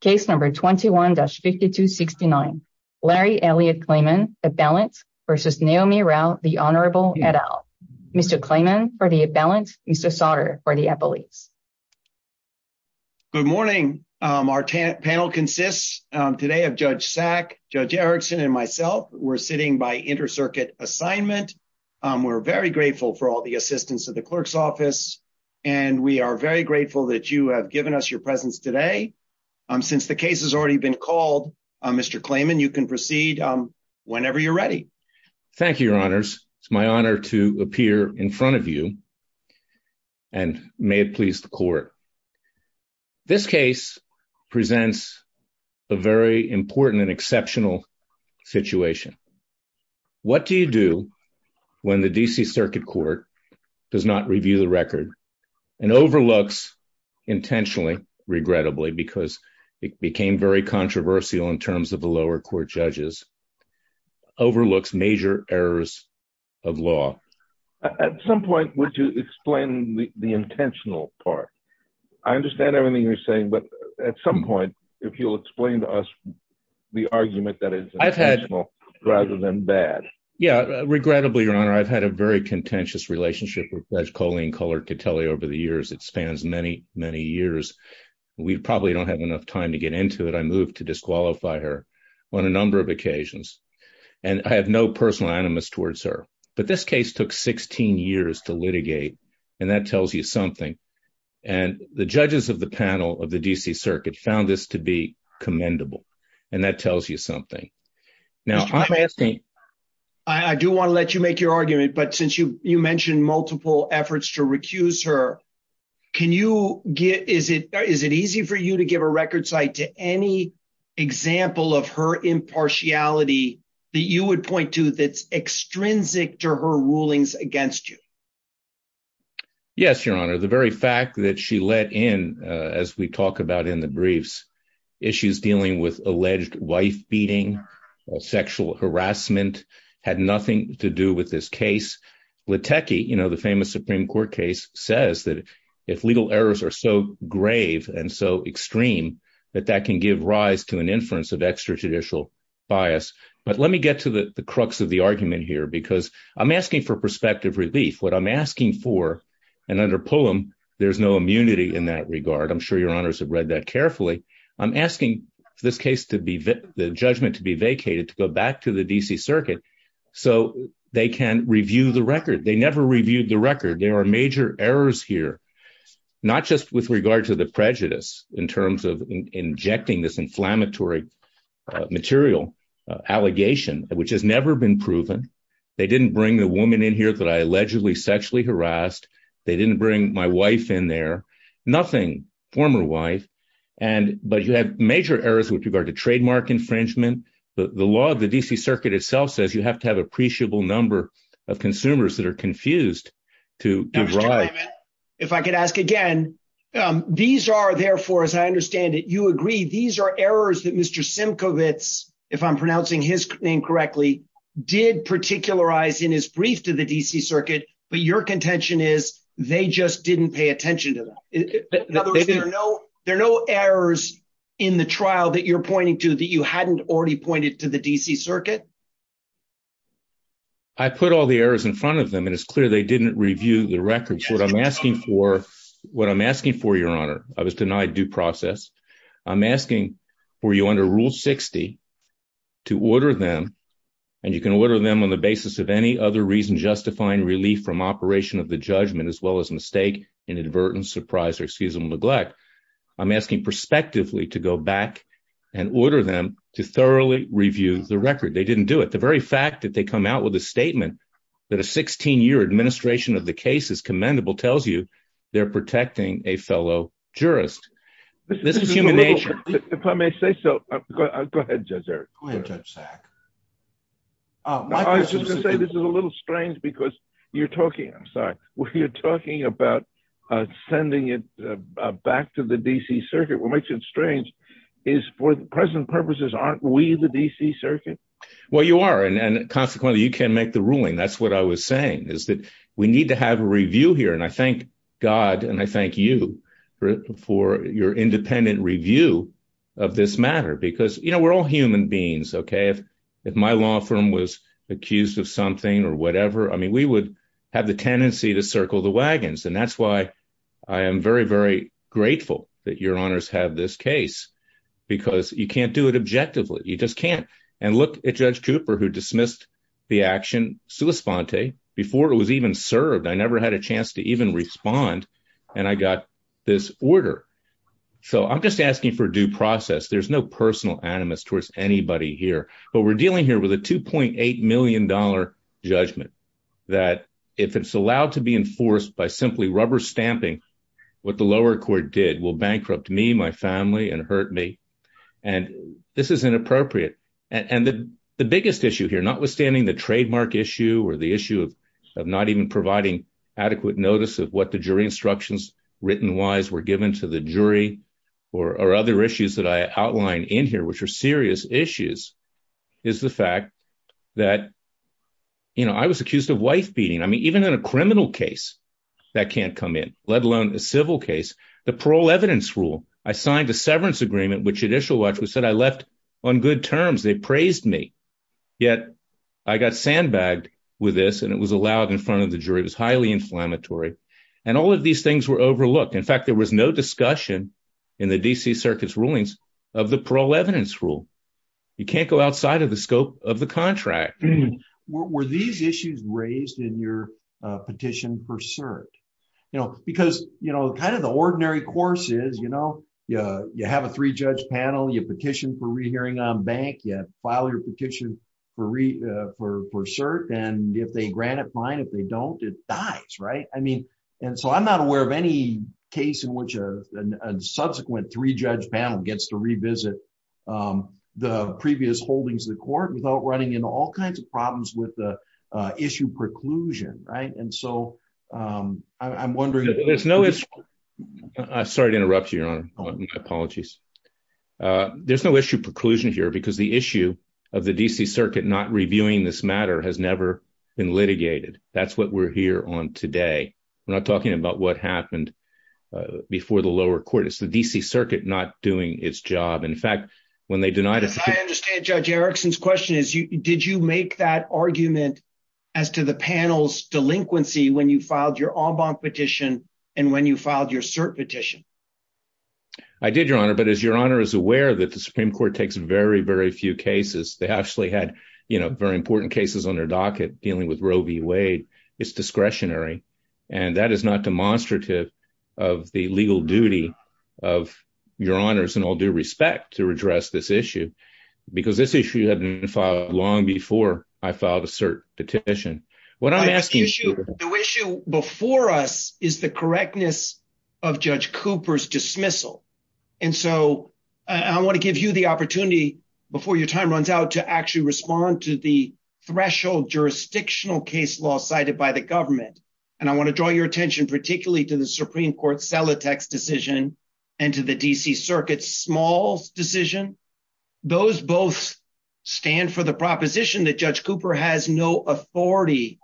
Case number 21-5269 Larry Elliot Klayman, at balance, versus Neomi Rao, the Honorable et al. Mr. Klayman for the at balance, Mr. Sauter for the at police. Good morning. Our panel consists today of Judge Sack, Judge Erickson, and myself. We're sitting by intercircuit assignment. We're very grateful for all the assistance of the clerk's office, and we are very grateful that you have given us your presence today. Since the case has already been called, Mr. Klayman, you can proceed whenever you're ready. Thank you, Your Honors. It's my honor to appear in front of you, and may it please the court. This case presents a very important and exceptional situation. What do you do when the D.C. Circuit Court does not review the record and overlooks, intentionally, regrettably, because it became very controversial in terms of the lower court judges, overlooks major errors of law? At some point, would you explain the intentional part? I understand everything you're saying, but at some point, if you'll explain to us the argument that is intentional rather than bad. Yeah, regrettably, Your Honor, I've had a very contentious relationship with Judge Colleen Cullert to tell you over the years. It spans many, many years. We probably don't have enough time to get into it. I moved to disqualify her on a number of occasions, and I have no personal animus towards her, but this case took 16 years to litigate, and that tells you something. And the judges of the panel of the D.C. Circuit found this to be commendable, and that tells you something. Now, I'm asking... But since you mentioned multiple efforts to recuse her, is it easy for you to give a record cite to any example of her impartiality that you would point to that's extrinsic to her rulings against you? Yes, Your Honor. The very fact that she let in, as we talk about in the briefs, issues dealing with alleged wife-beating, sexual harassment, had nothing to do with this case. Litecki, you know, the famous Supreme Court case, says that if legal errors are so grave and so extreme, that that can give rise to an inference of extrajudicial bias. But let me get to the crux of the argument here, because I'm asking for perspective relief. What I'm asking for, and under Pullum, there's no immunity in that regard. I'm sure Your Honors have read that I'm asking for this case to be, the judgment to be vacated, to go back to the D.C. Circuit so they can review the record. They never reviewed the record. There are major errors here, not just with regard to the prejudice in terms of injecting this inflammatory material, allegation, which has never been proven. They didn't bring the woman in here that I allegedly sexually harassed. They didn't bring my wife in there. Nothing, former wife. And, but you have major errors with regard to trademark infringement. The law of the D.C. Circuit itself says you have to have appreciable number of consumers that are confused to give rise. If I could ask again, these are therefore, as I understand it, you agree, these are errors that Mr. Simcovitz, if I'm pronouncing his name correctly, did particularize in his brief to the D.C. Circuit, but your contention is they just didn't pay attention to them. There are no errors in the trial that you're pointing to that you hadn't already pointed to the D.C. Circuit. I put all the errors in front of them and it's clear they didn't review the records. What I'm asking for, what I'm asking for, Your Honor, I was denied due process. I'm asking for you under Rule 60 to order them and you can order them on the basis of any other reason justifying relief from operation of the judgment as well as mistake, inadvertence, surprise, or excuse me, neglect. I'm asking prospectively to go back and order them to thoroughly review the record. They didn't do it. The very fact that they come out with a statement that a 16-year administration of the case is commendable tells you they're protecting a fellow jurist. This is human nature. If I may say so, go ahead, Judge Eric. Go ahead, Judge Sack. Oh, I was just going to say this is a little strange because you're talking, I'm sorry, when you're talking about sending it back to the D.C. Circuit, what makes it strange is for present purposes aren't we the D.C. Circuit? Well, you are and consequently you can't make the ruling. That's what I was saying is that we need to have a review here and I thank God and I thank you for your independent review of this matter because, you know, we're all human beings, okay? If my law firm was accused of something or whatever, I mean, we would have the tendency to circle the wagons and that's why I am very, very grateful that your honors have this case because you can't do it objectively. You just can't and look at Judge Cooper who dismissed the action sua sponte before it was even served. I never had a chance to even respond and I got this order. So, I'm just asking for due process. There's no personal animus towards anybody here but we're dealing here with a 2.8 million dollar judgment that if it's allowed to be enforced by simply rubber stamping what the lower court did will bankrupt me, my family, and hurt me and this is inappropriate and the biggest issue here, notwithstanding the trademark issue or the issue of not even providing adequate notice of what the jury instructions written wise were given to the jury or other issues that I outline in here which are serious issues, is the fact that, you know, I was accused of wife beating. I mean, even in a criminal case that can't come in, let alone a civil case. The parole evidence rule, I signed a severance agreement which Judicial Watch said I left on good terms. They praised me, yet I got sandbagged with this and it was allowed in front of the jury. It was highly inflammatory and all of these things were overlooked. In fact, there was no discussion in the DC Circuit's rulings of the parole evidence rule. You can't go outside of the scope of the contract. Were these issues raised in petition for cert? You know, because, you know, kind of the ordinary course is, you know, you have a three-judge panel, you petition for rehearing on bank, you file your petition for cert, and if they grant it, fine. If they don't, it dies, right? I mean, and so I'm not aware of any case in which a subsequent three-judge panel gets to revisit the previous holdings of the court without running into all kinds of problems with the issue preclusion, right? And so, I'm wondering... Sorry to interrupt you, Your Honor. My apologies. There's no issue preclusion here because the issue of the DC Circuit not reviewing this matter has never been litigated. That's what we're here on today. We're not talking about what happened before the lower court. It's the DC Circuit not doing its Did you make that argument as to the panel's delinquency when you filed your en banc petition and when you filed your cert petition? I did, Your Honor, but as Your Honor is aware that the Supreme Court takes very, very few cases. They actually had, you know, very important cases on their docket dealing with Roe v. Wade. It's discretionary, and that is not demonstrative of the legal duty of Your Honors in all due respect to address this issue because this issue hadn't been filed long before I filed a cert petition. What I'm asking... The issue before us is the correctness of Judge Cooper's dismissal, and so I want to give you the opportunity before your time runs out to actually respond to the threshold jurisdictional case law cited by the government, and I want to draw your attention particularly to the Supreme Court's Selitex decision and to the DC Circuit's Smalls decision. Those both stand for the proposition that Judge Cooper has no authority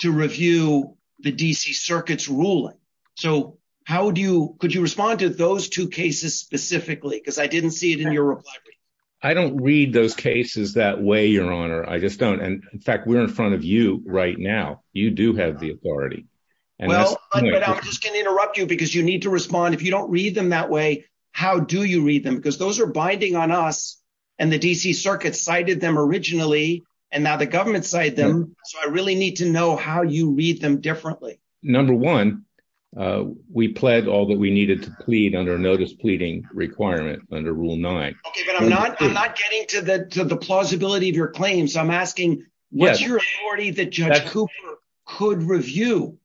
to review the DC Circuit's ruling, so how would you... Could you respond to those two cases specifically because I didn't see it in your reply? I don't read those cases that way, Your Honor. I just don't, and in fact we're in front of you right now. You do have the authority. Well, I'm just going to interrupt you because you need to respond. If you don't read them that way, how do you read them? Because those are binding on us, and the DC Circuit cited them originally, and now the government cited them, so I really need to know how you read them differently. Number one, we pled all that we needed to plead under a notice pleading requirement under Rule 9. Okay, but I'm not getting to the plausibility of your claim, so I'm asking, what's your authority that Judge Cooper could review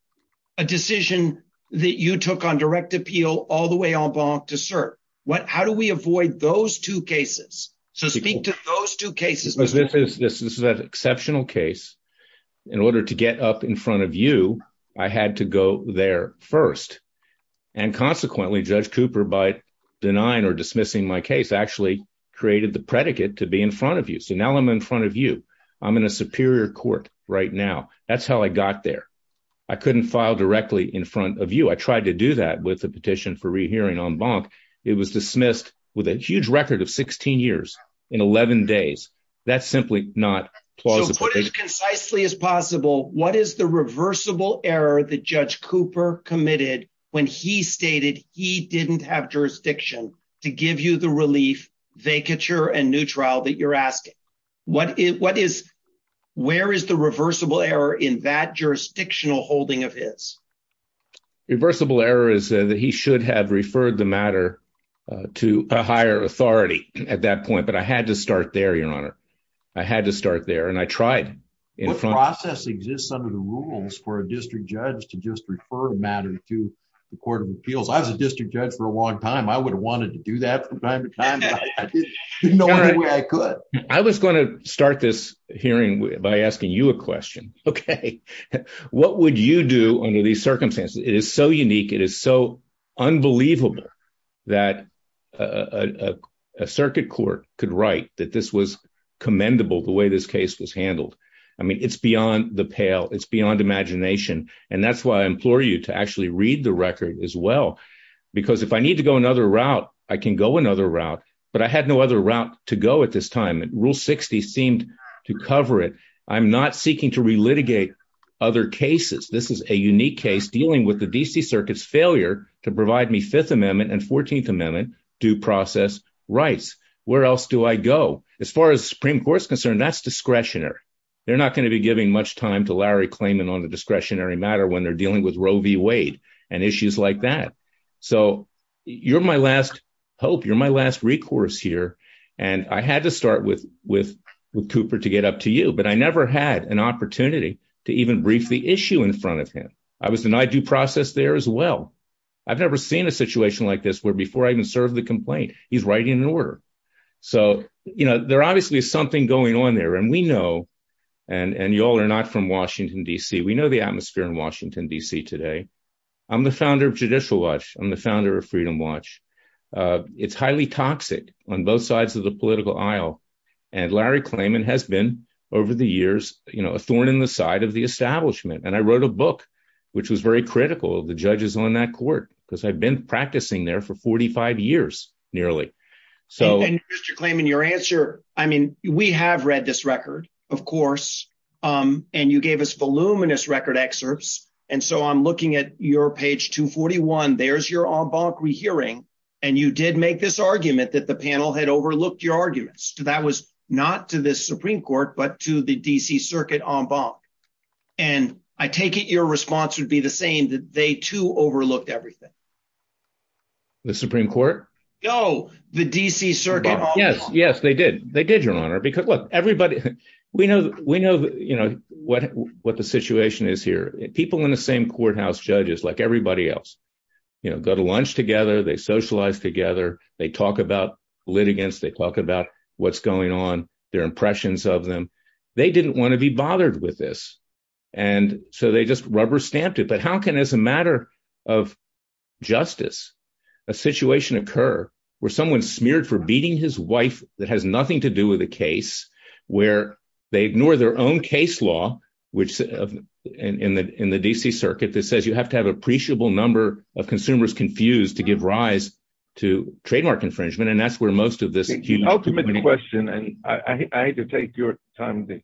a decision that you took on direct appeal all the way en banc to cert? How do we avoid those two cases? So speak to those two cases. This is an exceptional case. In order to get up in front of you, I had to go there first, and consequently Judge Cooper, by denying or dismissing my case, actually created the predicate to be in front of you. So now I'm in front of you. I'm in a superior court right now. That's how I got there. I couldn't file directly in front of you. I tried to do that with the petition for rehearing en banc. It was dismissed with a huge record of 16 years in 11 days. That's simply not plausible. Put as concisely as possible, what is the reversible error that Judge Cooper committed when he stated he didn't have jurisdiction to give you the relief, vacature, and new trial that you're asking? Where is the reversible error in that jurisdictional holding of his? Reversible error is that he should have referred the matter to a higher authority at that point, but I had to start there, Your Honor. I had to start there, and I tried. What process exists under the rules for a district judge to just refer a matter to the Court of Appeals? I was a district judge for a long time. I would have wanted to do that from time to time, but I didn't know any way I could. I was going to start this hearing by asking you a question. Okay. What would you do under these circumstances? It is so unique. It is so unbelievable that a circuit court could write that this was commendable, the way this case was handled. I mean, it's beyond the pale. It's beyond imagination, and that's why I implore you to actually read the record as well, because if I need to go another route, I can go another route, but I had no other route to go at this time. Rule 60 seemed to cover it. I'm not seeking to relitigate other cases. This is a unique case dealing with the D.C. Circuit's failure to provide me Fifth Amendment and Fourteenth Amendment due process rights. Where else do I go? As far as the Supreme Court's concerned, that's discretionary. They're not going to be giving much time to Larry Klayman on the discretionary matter when they're dealing with Roe v. Wade and issues like that. So you're my last hope. You're my last recourse here, and I had to start with Cooper to get up to you, but I never had an opportunity to even brief the issue in front of him. I was denied due process there as well. I've never seen a situation like this where before I served the complaint, he's writing an order. So there obviously is something going on there, and we know, and you all are not from Washington, D.C. We know the atmosphere in Washington, D.C. today. I'm the founder of Judicial Watch. I'm the founder of Freedom Watch. It's highly toxic on both sides of the political aisle, and Larry Klayman has been over the years a thorn in the side of the establishment, and I wrote a book, which was very critical of the judges on that nearly. Mr. Klayman, your answer, I mean, we have read this record, of course, and you gave us voluminous record excerpts, and so I'm looking at your page 241. There's your en banc rehearing, and you did make this argument that the panel had overlooked your arguments. That was not to the Supreme Court but to the D.C. Circuit en banc, and I take it your response would be the same, they too overlooked everything. The Supreme Court? No, the D.C. Circuit en banc. Yes, yes, they did. They did, Your Honor, because look, everybody, we know what the situation is here. People in the same courthouse, judges, like everybody else, you know, go to lunch together, they socialize together, they talk about litigants, they talk about what's going on, their impressions of them. They didn't want to be bothered with this, and so they just rubber stamped it. But how can, as a matter of justice, a situation occur where someone's smeared for beating his wife that has nothing to do with the case, where they ignore their own case law, which in the D.C. Circuit that says you have to have appreciable number of consumers confused to give rise to trademark infringement, and that's where most of this... The ultimate question, and I hate to take your time to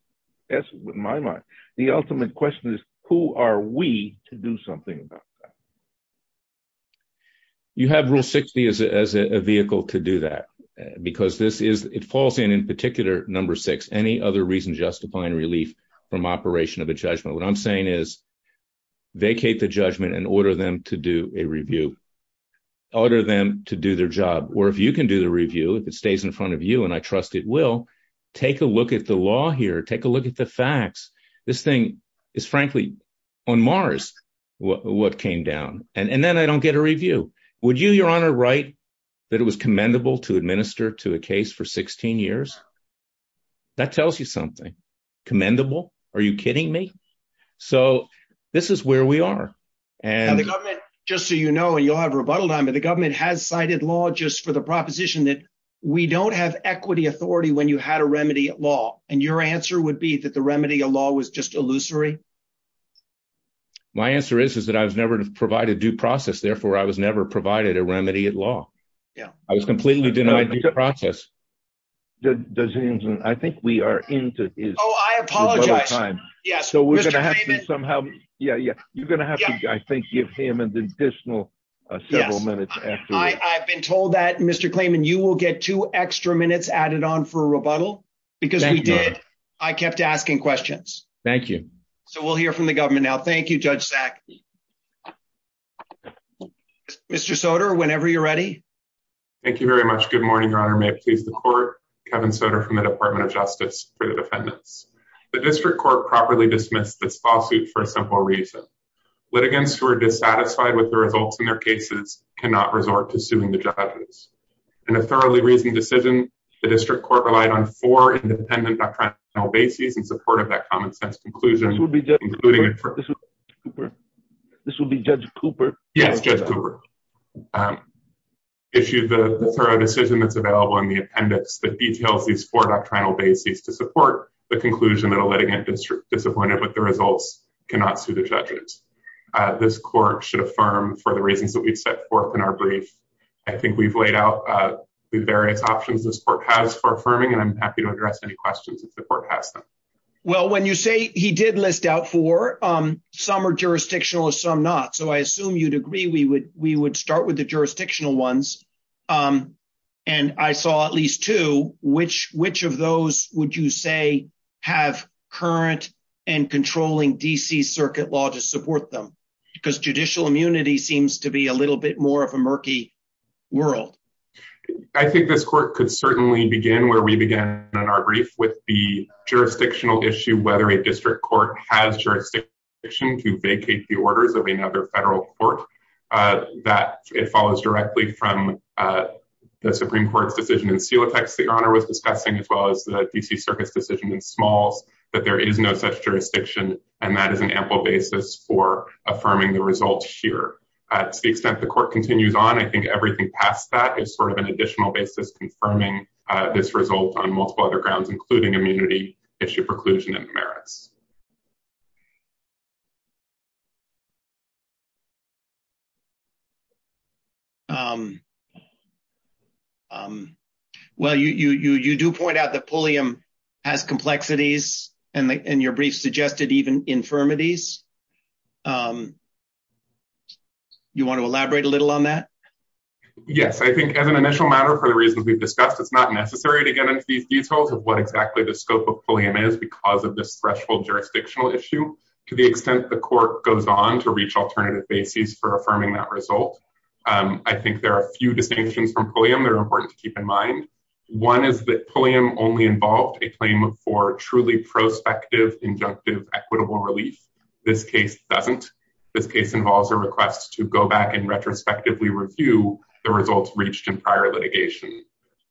answer, but in my mind, the ultimate question is, who are we to do something about that? You have Rule 60 as a vehicle to do that, because this is, it falls in, in particular, number six, any other reason justifying relief from operation of a judgment. What I'm saying is, vacate the judgment and order them to do a review. Order them to do their job, or if you can do the review, if it stays in front of you, and I trust it will, take a look at the law here, take a look at the facts. This thing is, frankly, on Mars, what came down. And then I don't get a review. Would you, Your Honor, write that it was commendable to administer to a case for 16 years? That tells you something. Commendable? Are you kidding me? So this is where we are. And the government, just so you know, and you'll have authority when you had a remedy at law. And your answer would be that the remedy of law was just illusory? My answer is, is that I was never to provide a due process. Therefore, I was never provided a remedy at law. Yeah. I was completely denied due process. I think we are into his. Oh, I apologize. Yes. So we're going to have to somehow. Yeah, yeah. You're going to have to, I think, give him an additional several minutes. I've been told that, Mr. Klayman, you will get two extra minutes added on for rebuttal because we did. I kept asking questions. Thank you. So we'll hear from the government now. Thank you, Judge Sack. Mr. Soter, whenever you're ready. Thank you very much. Good morning, Your Honor. May it please the court. Kevin Soter from the Department of Justice for the defendants. The district court properly dismissed this lawsuit for a simple reason. Litigants who are dissatisfied with the results in their cases cannot resort to suing the judges. In a thoroughly reasoned decision, the district court relied on four independent doctrinal bases in support of that common sense conclusion. This will be Judge Cooper. Yes, Judge Cooper. Issued the thorough decision that's available in the appendix that details these four doctrinal bases to support the conclusion that a litigant district disappointed with the results cannot sue the judges. This court should affirm for the reasons that we've set forth in our brief. I think we've laid out the various options this court has for affirming, and I'm happy to address any questions if the court has them. Well, when you say he did list out four, some are jurisdictional or some not. So I assume you'd agree we would start with the jurisdictional ones. And I saw at least two. Which of those would you say have current and controlling D.C. circuit law to support them? Because judicial immunity seems to be a little bit more of a murky world. I think this court could certainly begin where we began in our brief with the jurisdictional issue, whether a district court has jurisdiction to vacate the orders of another federal court, that it follows directly from the Supreme Court's decision, as well as the D.C. circuit's decision in Smalls, that there is no such jurisdiction, and that is an ample basis for affirming the results here. To the extent the court continues on, I think everything past that is sort of an additional basis confirming this result on multiple other grounds, including immunity, issue preclusion, and merits. Well, you do point out that Pulliam has complexities, and your brief suggested even infirmities. You want to elaborate a little on that? Yes. I think as an initial matter, for the reasons we've discussed, it's not necessary to get into these details of what exactly the scope of Pulliam is because of this threshold jurisdictional issue. To the extent the court goes on to reach alternative bases for affirming that one is that Pulliam only involved a claim for truly prospective injunctive equitable relief. This case doesn't. This case involves a request to go back and retrospectively review the results reached in prior litigation.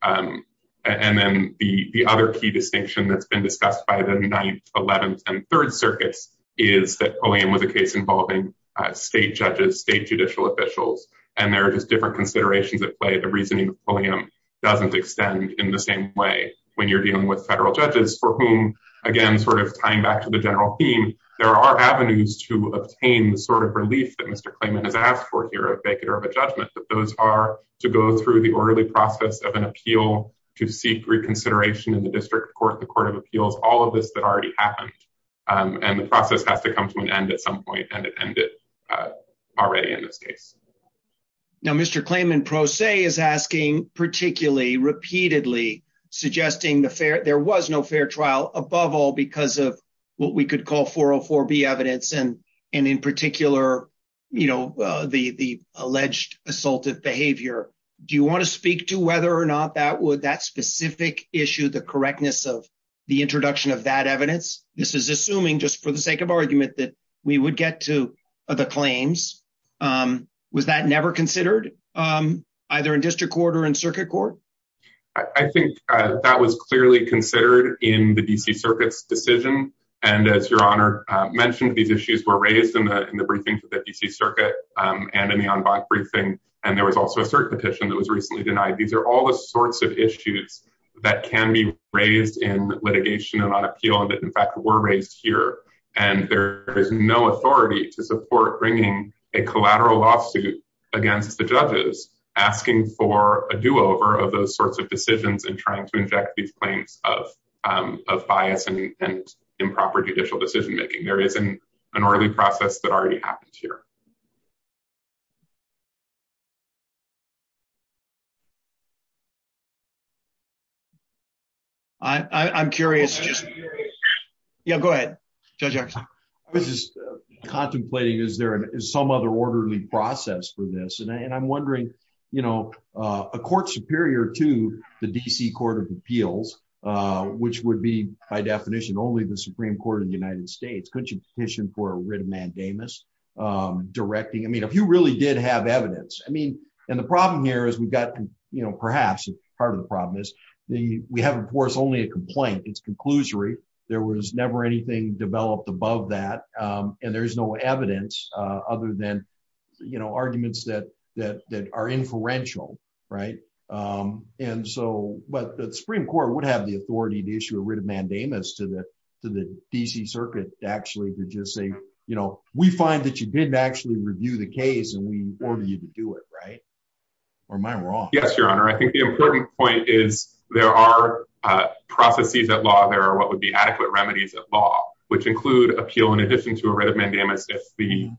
And then the other key distinction that's been discussed by the 9th, 11th, and 3rd circuits is that Pulliam was a case involving state judges, state judicial officials, and there are just different considerations at play. The reasoning of Pulliam doesn't extend in the same way when you're dealing with federal judges for whom, again, sort of tying back to the general theme, there are avenues to obtain the sort of relief that Mr. Clayman has asked for here at Beginner of a Judgment, that those are to go through the orderly process of an appeal to seek reconsideration in the district court, the court of appeals, all of this that already happened. And the process has to come to an end at some point, and it ended already in this case. Now, Mr. Clayman, Pro Se is asking, particularly repeatedly, suggesting the fair, there was no fair trial, above all, because of what we could call 404B evidence and, and in particular, you know, the alleged assaultive behavior. Do you want to speak to whether or not that would that specific issue, the correctness of the introduction of that claims? Was that never considered, either in district court or in circuit court? I think that was clearly considered in the DC Circuit's decision. And as Your Honor mentioned, these issues were raised in the briefing to the DC Circuit, and in the en banc briefing, and there was also a cert petition that was recently denied. These are all the sorts of issues that can be raised in litigation and on appeal that in fact, were raised here. And there is no authority to support bringing a collateral lawsuit against the judges asking for a do-over of those sorts of decisions and trying to inject these claims of bias and improper judicial decision making. There is an early process that already happened here. I'm curious. Yeah, go ahead, Judge. I was just contemplating, is there some other orderly process for this? And I'm wondering, you know, a court superior to the DC Court of Appeals, which would be by definition, only the Supreme Court of the United States, petition for a writ of mandamus, directing, I mean, if you really did have evidence, I mean, and the problem here is we've got, you know, perhaps part of the problem is we have, of course, only a complaint, it's conclusory. There was never anything developed above that. And there's no evidence other than, you know, arguments that are inferential, right? And so, but the Supreme Court would have the authority to issue a writ of mandamus to the DC Circuit to actually just say, you know, we find that you didn't actually review the case and we order you to do it, right? Or am I wrong? Yes, Your Honor. I think the important point is there are processes at law, there are what would be adequate remedies at law, which include appeal in addition to a writ of mandamus if the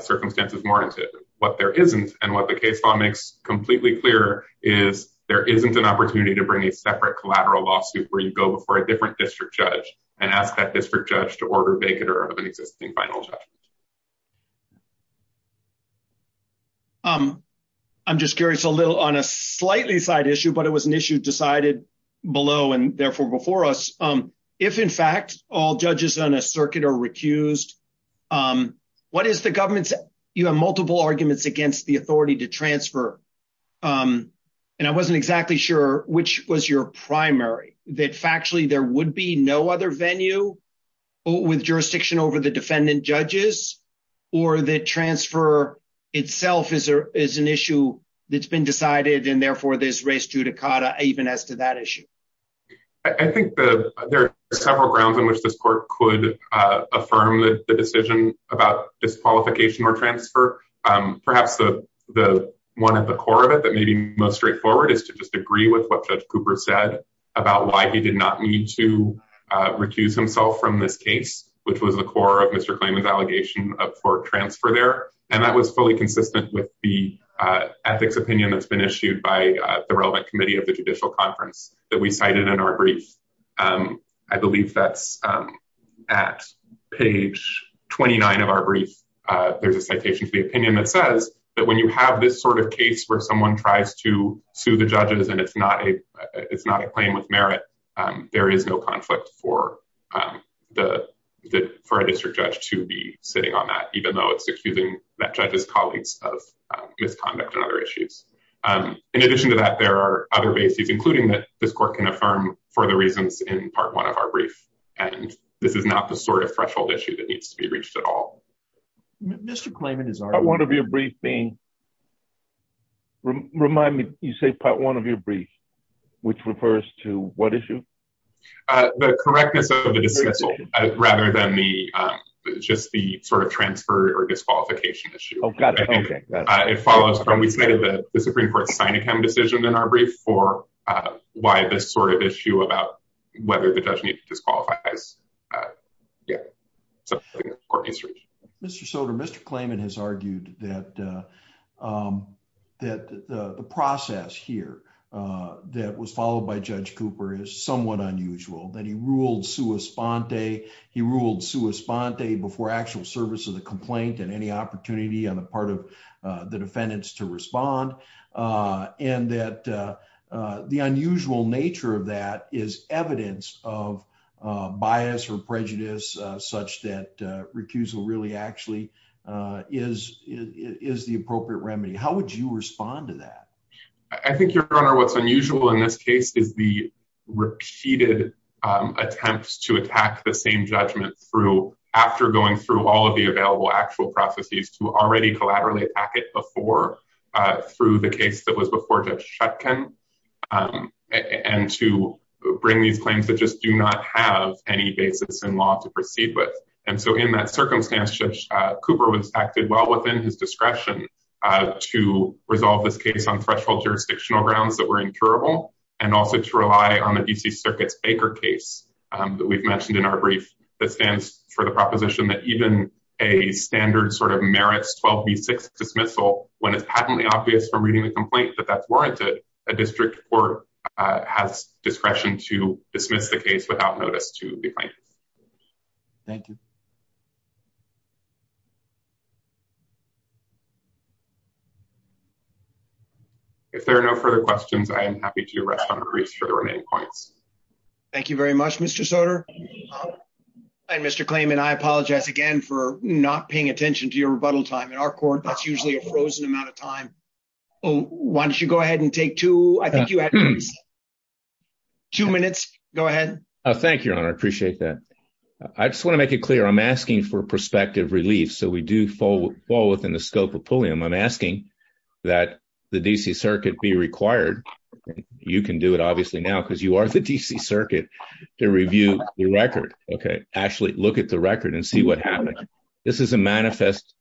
circumstances warrant it. What there isn't, and what the case law makes completely clear, is there isn't an opportunity to bring a separate collateral lawsuit where you go before a different district judge and ask that district judge to order vacater of an existing final judgment. I'm just curious a little on a slightly side issue, but it was an issue decided below and therefore before us. If, in fact, all judges on a circuit are recused, what is the government's, you have multiple arguments against the authority to transfer, and I wasn't exactly sure which was your primary, that factually there would be no other venue with jurisdiction over the defendant judges, or that transfer itself is an issue that's been decided and therefore there's res judicata even as to that issue? I think there are several grounds in which this court could affirm the decision about disqualification or transfer. Perhaps the one at the core of it that may be most straightforward is to just agree with what Judge Cooper said about why he did not need to recuse himself from this case, which was the core of Mr. Klayman's allegation of court transfer there, and that was fully consistent with the ethics opinion that's been issued by the relevant committee of the judicial conference that we at page 29 of our brief, there's a citation to the opinion that says that when you have this sort of case where someone tries to sue the judges and it's not a claim with merit, there is no conflict for a district judge to be sitting on that, even though it's accusing that judge's colleagues of misconduct and other issues. In addition to that, there are other bases, including that this court can affirm for the reasons in part one of our brief, and this is not the sort of threshold issue that needs to be reached at all. Mr. Klayman is our one of your brief being remind me, you say part one of your brief, which refers to what issue? The correctness of the decision, rather than the, just the sort of transfer or disqualification issue. It follows from we say that the Supreme Court signing him decision in our brief for why this sort of issue about whether the judge needs to disqualify. Mr. Soter, Mr. Klayman has argued that the process here that was followed by Judge Cooper is somewhat unusual, that he ruled sua sponte, he ruled sua sponte before actual service of the complaint and any opportunity on the part of the defendants to respond. And that the unusual nature of that is evidence of bias or prejudice, such that recusal really actually is is the appropriate remedy. How would you respond to that? I think your honor, what's unusual in this case is the repeated attempts to attack the same judgment through after going through all of the available actual processes to already collaterally packet before, through the case that was before Judge shutkin. And to bring these claims that just do not have any basis in law to proceed with. And so in that circumstance, Cooper was acted well within his discretion to resolve this case on threshold jurisdictional grounds that were incurable, and also to rely on the DC circuits Baker case that we've mentioned in our brief that stands for the proposition that even a standard sort of merits 12 v six dismissal when it's patently obvious from reading the complaint that that's warranted, a district court has discretion to dismiss the case without notice to the plaintiff. Thank you. If there are no further questions, I am happy to rest on a brief for the remaining points. Thank you very much, Mr. Soter. And Mr. Klayman, I apologize again for not paying attention to your rebuttal time in our court. That's usually a frozen amount of time. Why don't you go ahead and take two I think you had two minutes. Go ahead. Thank you, Your Honor. I appreciate that. I just want to make it clear. I'm asking for perspective relief. So we do fall fall within the scope of Pulliam. I'm asking that the DC circuit be required. You can do it obviously now because you are the DC circuit to review the record. Okay, actually look at the record and see what happened. This is a manifest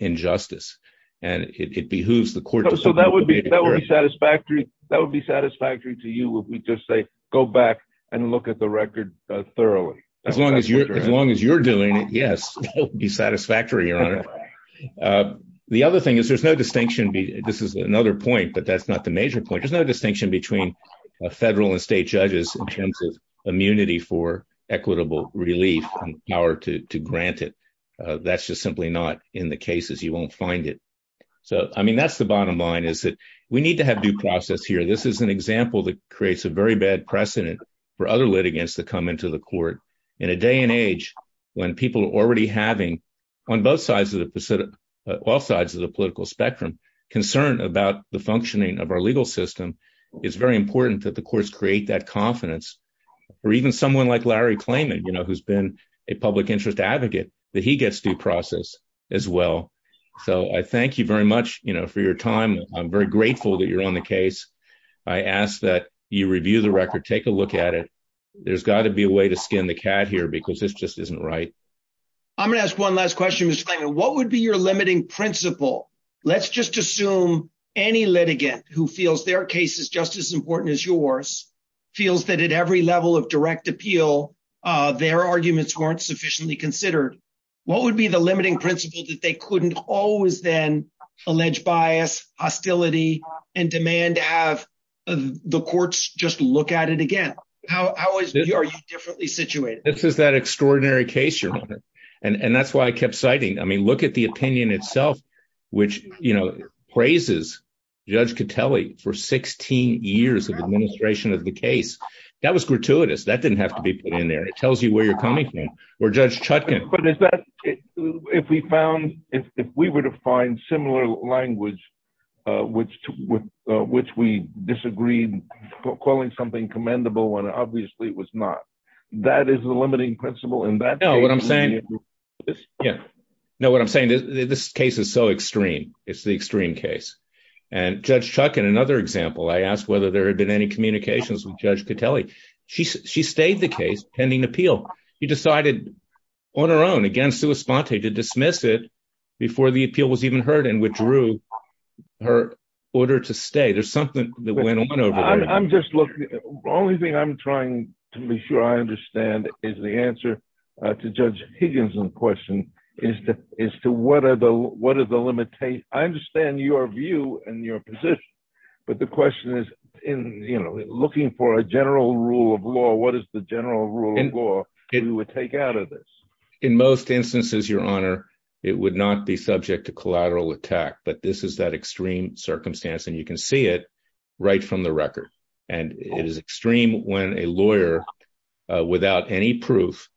injustice. And it behooves the court. So that would be that would be satisfactory. That would be satisfactory to you. We just say go back and look at the record thoroughly. As long as you're as long as you're doing it. Yes. Be satisfactory. The other thing is there's no distinction. This is another point. But that's not the point. There's no distinction between federal and state judges in terms of immunity for equitable relief and power to grant it. That's just simply not in the cases, you won't find it. So I mean, that's the bottom line is that we need to have due process here. This is an example that creates a very bad precedent for other litigants to come into the court in a day and age, when people are already having on both sides of the Pacific, all sides of the political spectrum, concerned about the functioning of our legal system, it's very important that the courts create that confidence. Or even someone like Larry Klayman, you know, who's been a public interest advocate, that he gets due process as well. So I thank you very much, you know, for your time. I'm very grateful that you're on the case. I ask that you review the record, take a look at it. There's got to be a way to skin the cat here, because this just isn't right. I'm gonna ask one last question. What would be your limiting principle? Let's just assume any litigant who feels their case is just as important as yours, feels that at every level of direct appeal, their arguments weren't sufficiently considered. What would be the limiting principle that they couldn't always then allege bias, hostility, and demand to have the courts just look at it again? How are you differently situated? This is that extraordinary case, and that's why I kept citing, I mean, look at the opinion itself, which, you know, praises Judge Catelli for 16 years of administration of the case. That was gratuitous. That didn't have to be put in there. It tells you where you're coming from, or Judge Chutkan. But is that, if we found, if we were to find similar language, which we disagreed, calling something commendable, when obviously it was not, that is the limiting principle. No, what I'm saying, yeah, no, what I'm saying is this case is so extreme. It's the extreme case. And Judge Chutkan, another example, I asked whether there had been any communications with Judge Catelli. She stayed the case pending appeal. She decided on her own, again, sua sponte, to dismiss it before the appeal was even heard and withdrew her order to stay. There's something that went on over there. I'm just looking, the only thing I'm trying to make sure I understand is the answer to Judge Higgins' question, is to what are the, what are the limitations? I understand your view and your position, but the question is in, you know, looking for a general rule of law, what is the general rule of law you would take out of this? In most instances, Your Honor, it would not be subject to collateral attack, but this is that and it is extreme when a lawyer without any proof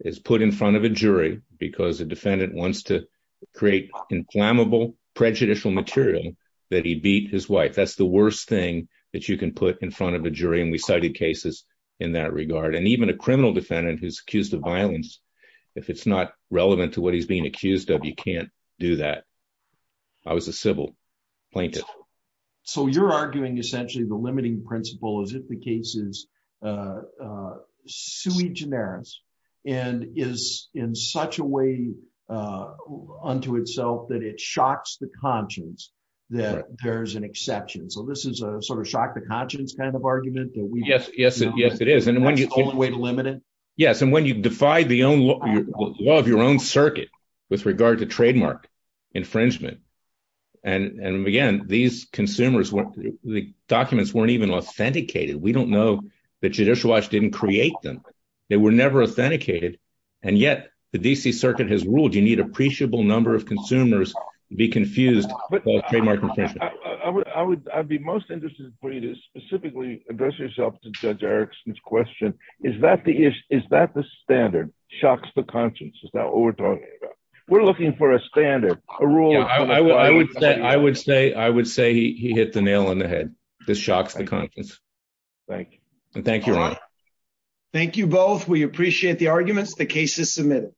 is put in front of a jury because the defendant wants to create inflammable prejudicial material that he beat his wife. That's the worst thing that you can put in front of a jury, and we cited cases in that regard. And even a criminal defendant who's accused of violence, if it's not relevant to what he's being accused of, you can't do that. I was a civil plaintiff. So you're arguing essentially the limiting principle as if the case is sui generis and is in such a way unto itself that it shocks the conscience that there's an exception. So this is a sort of shock the conscience kind of argument? Yes, yes, yes, it is. And when you- That's the only way to limit it? Yes. And when you defy the law of your own circuit with regard to trademark infringement, and again, these consumers, the documents weren't even authenticated. We don't know that Judicial Watch didn't create them. They were never authenticated. And yet, the D.C. Circuit has ruled you need appreciable number of consumers to be confused by trademark infringement. But I would be most interested for you to specifically address yourself to Judge Erickson's question. Is that the standard, shocks the conscience? Is that what we're talking about? We're looking for a standard, a rule- I would say he hit the nail on the head. This shocks the conscience. Thank you. And thank you, Ron. Thank you both. We appreciate the arguments. The case is submitted.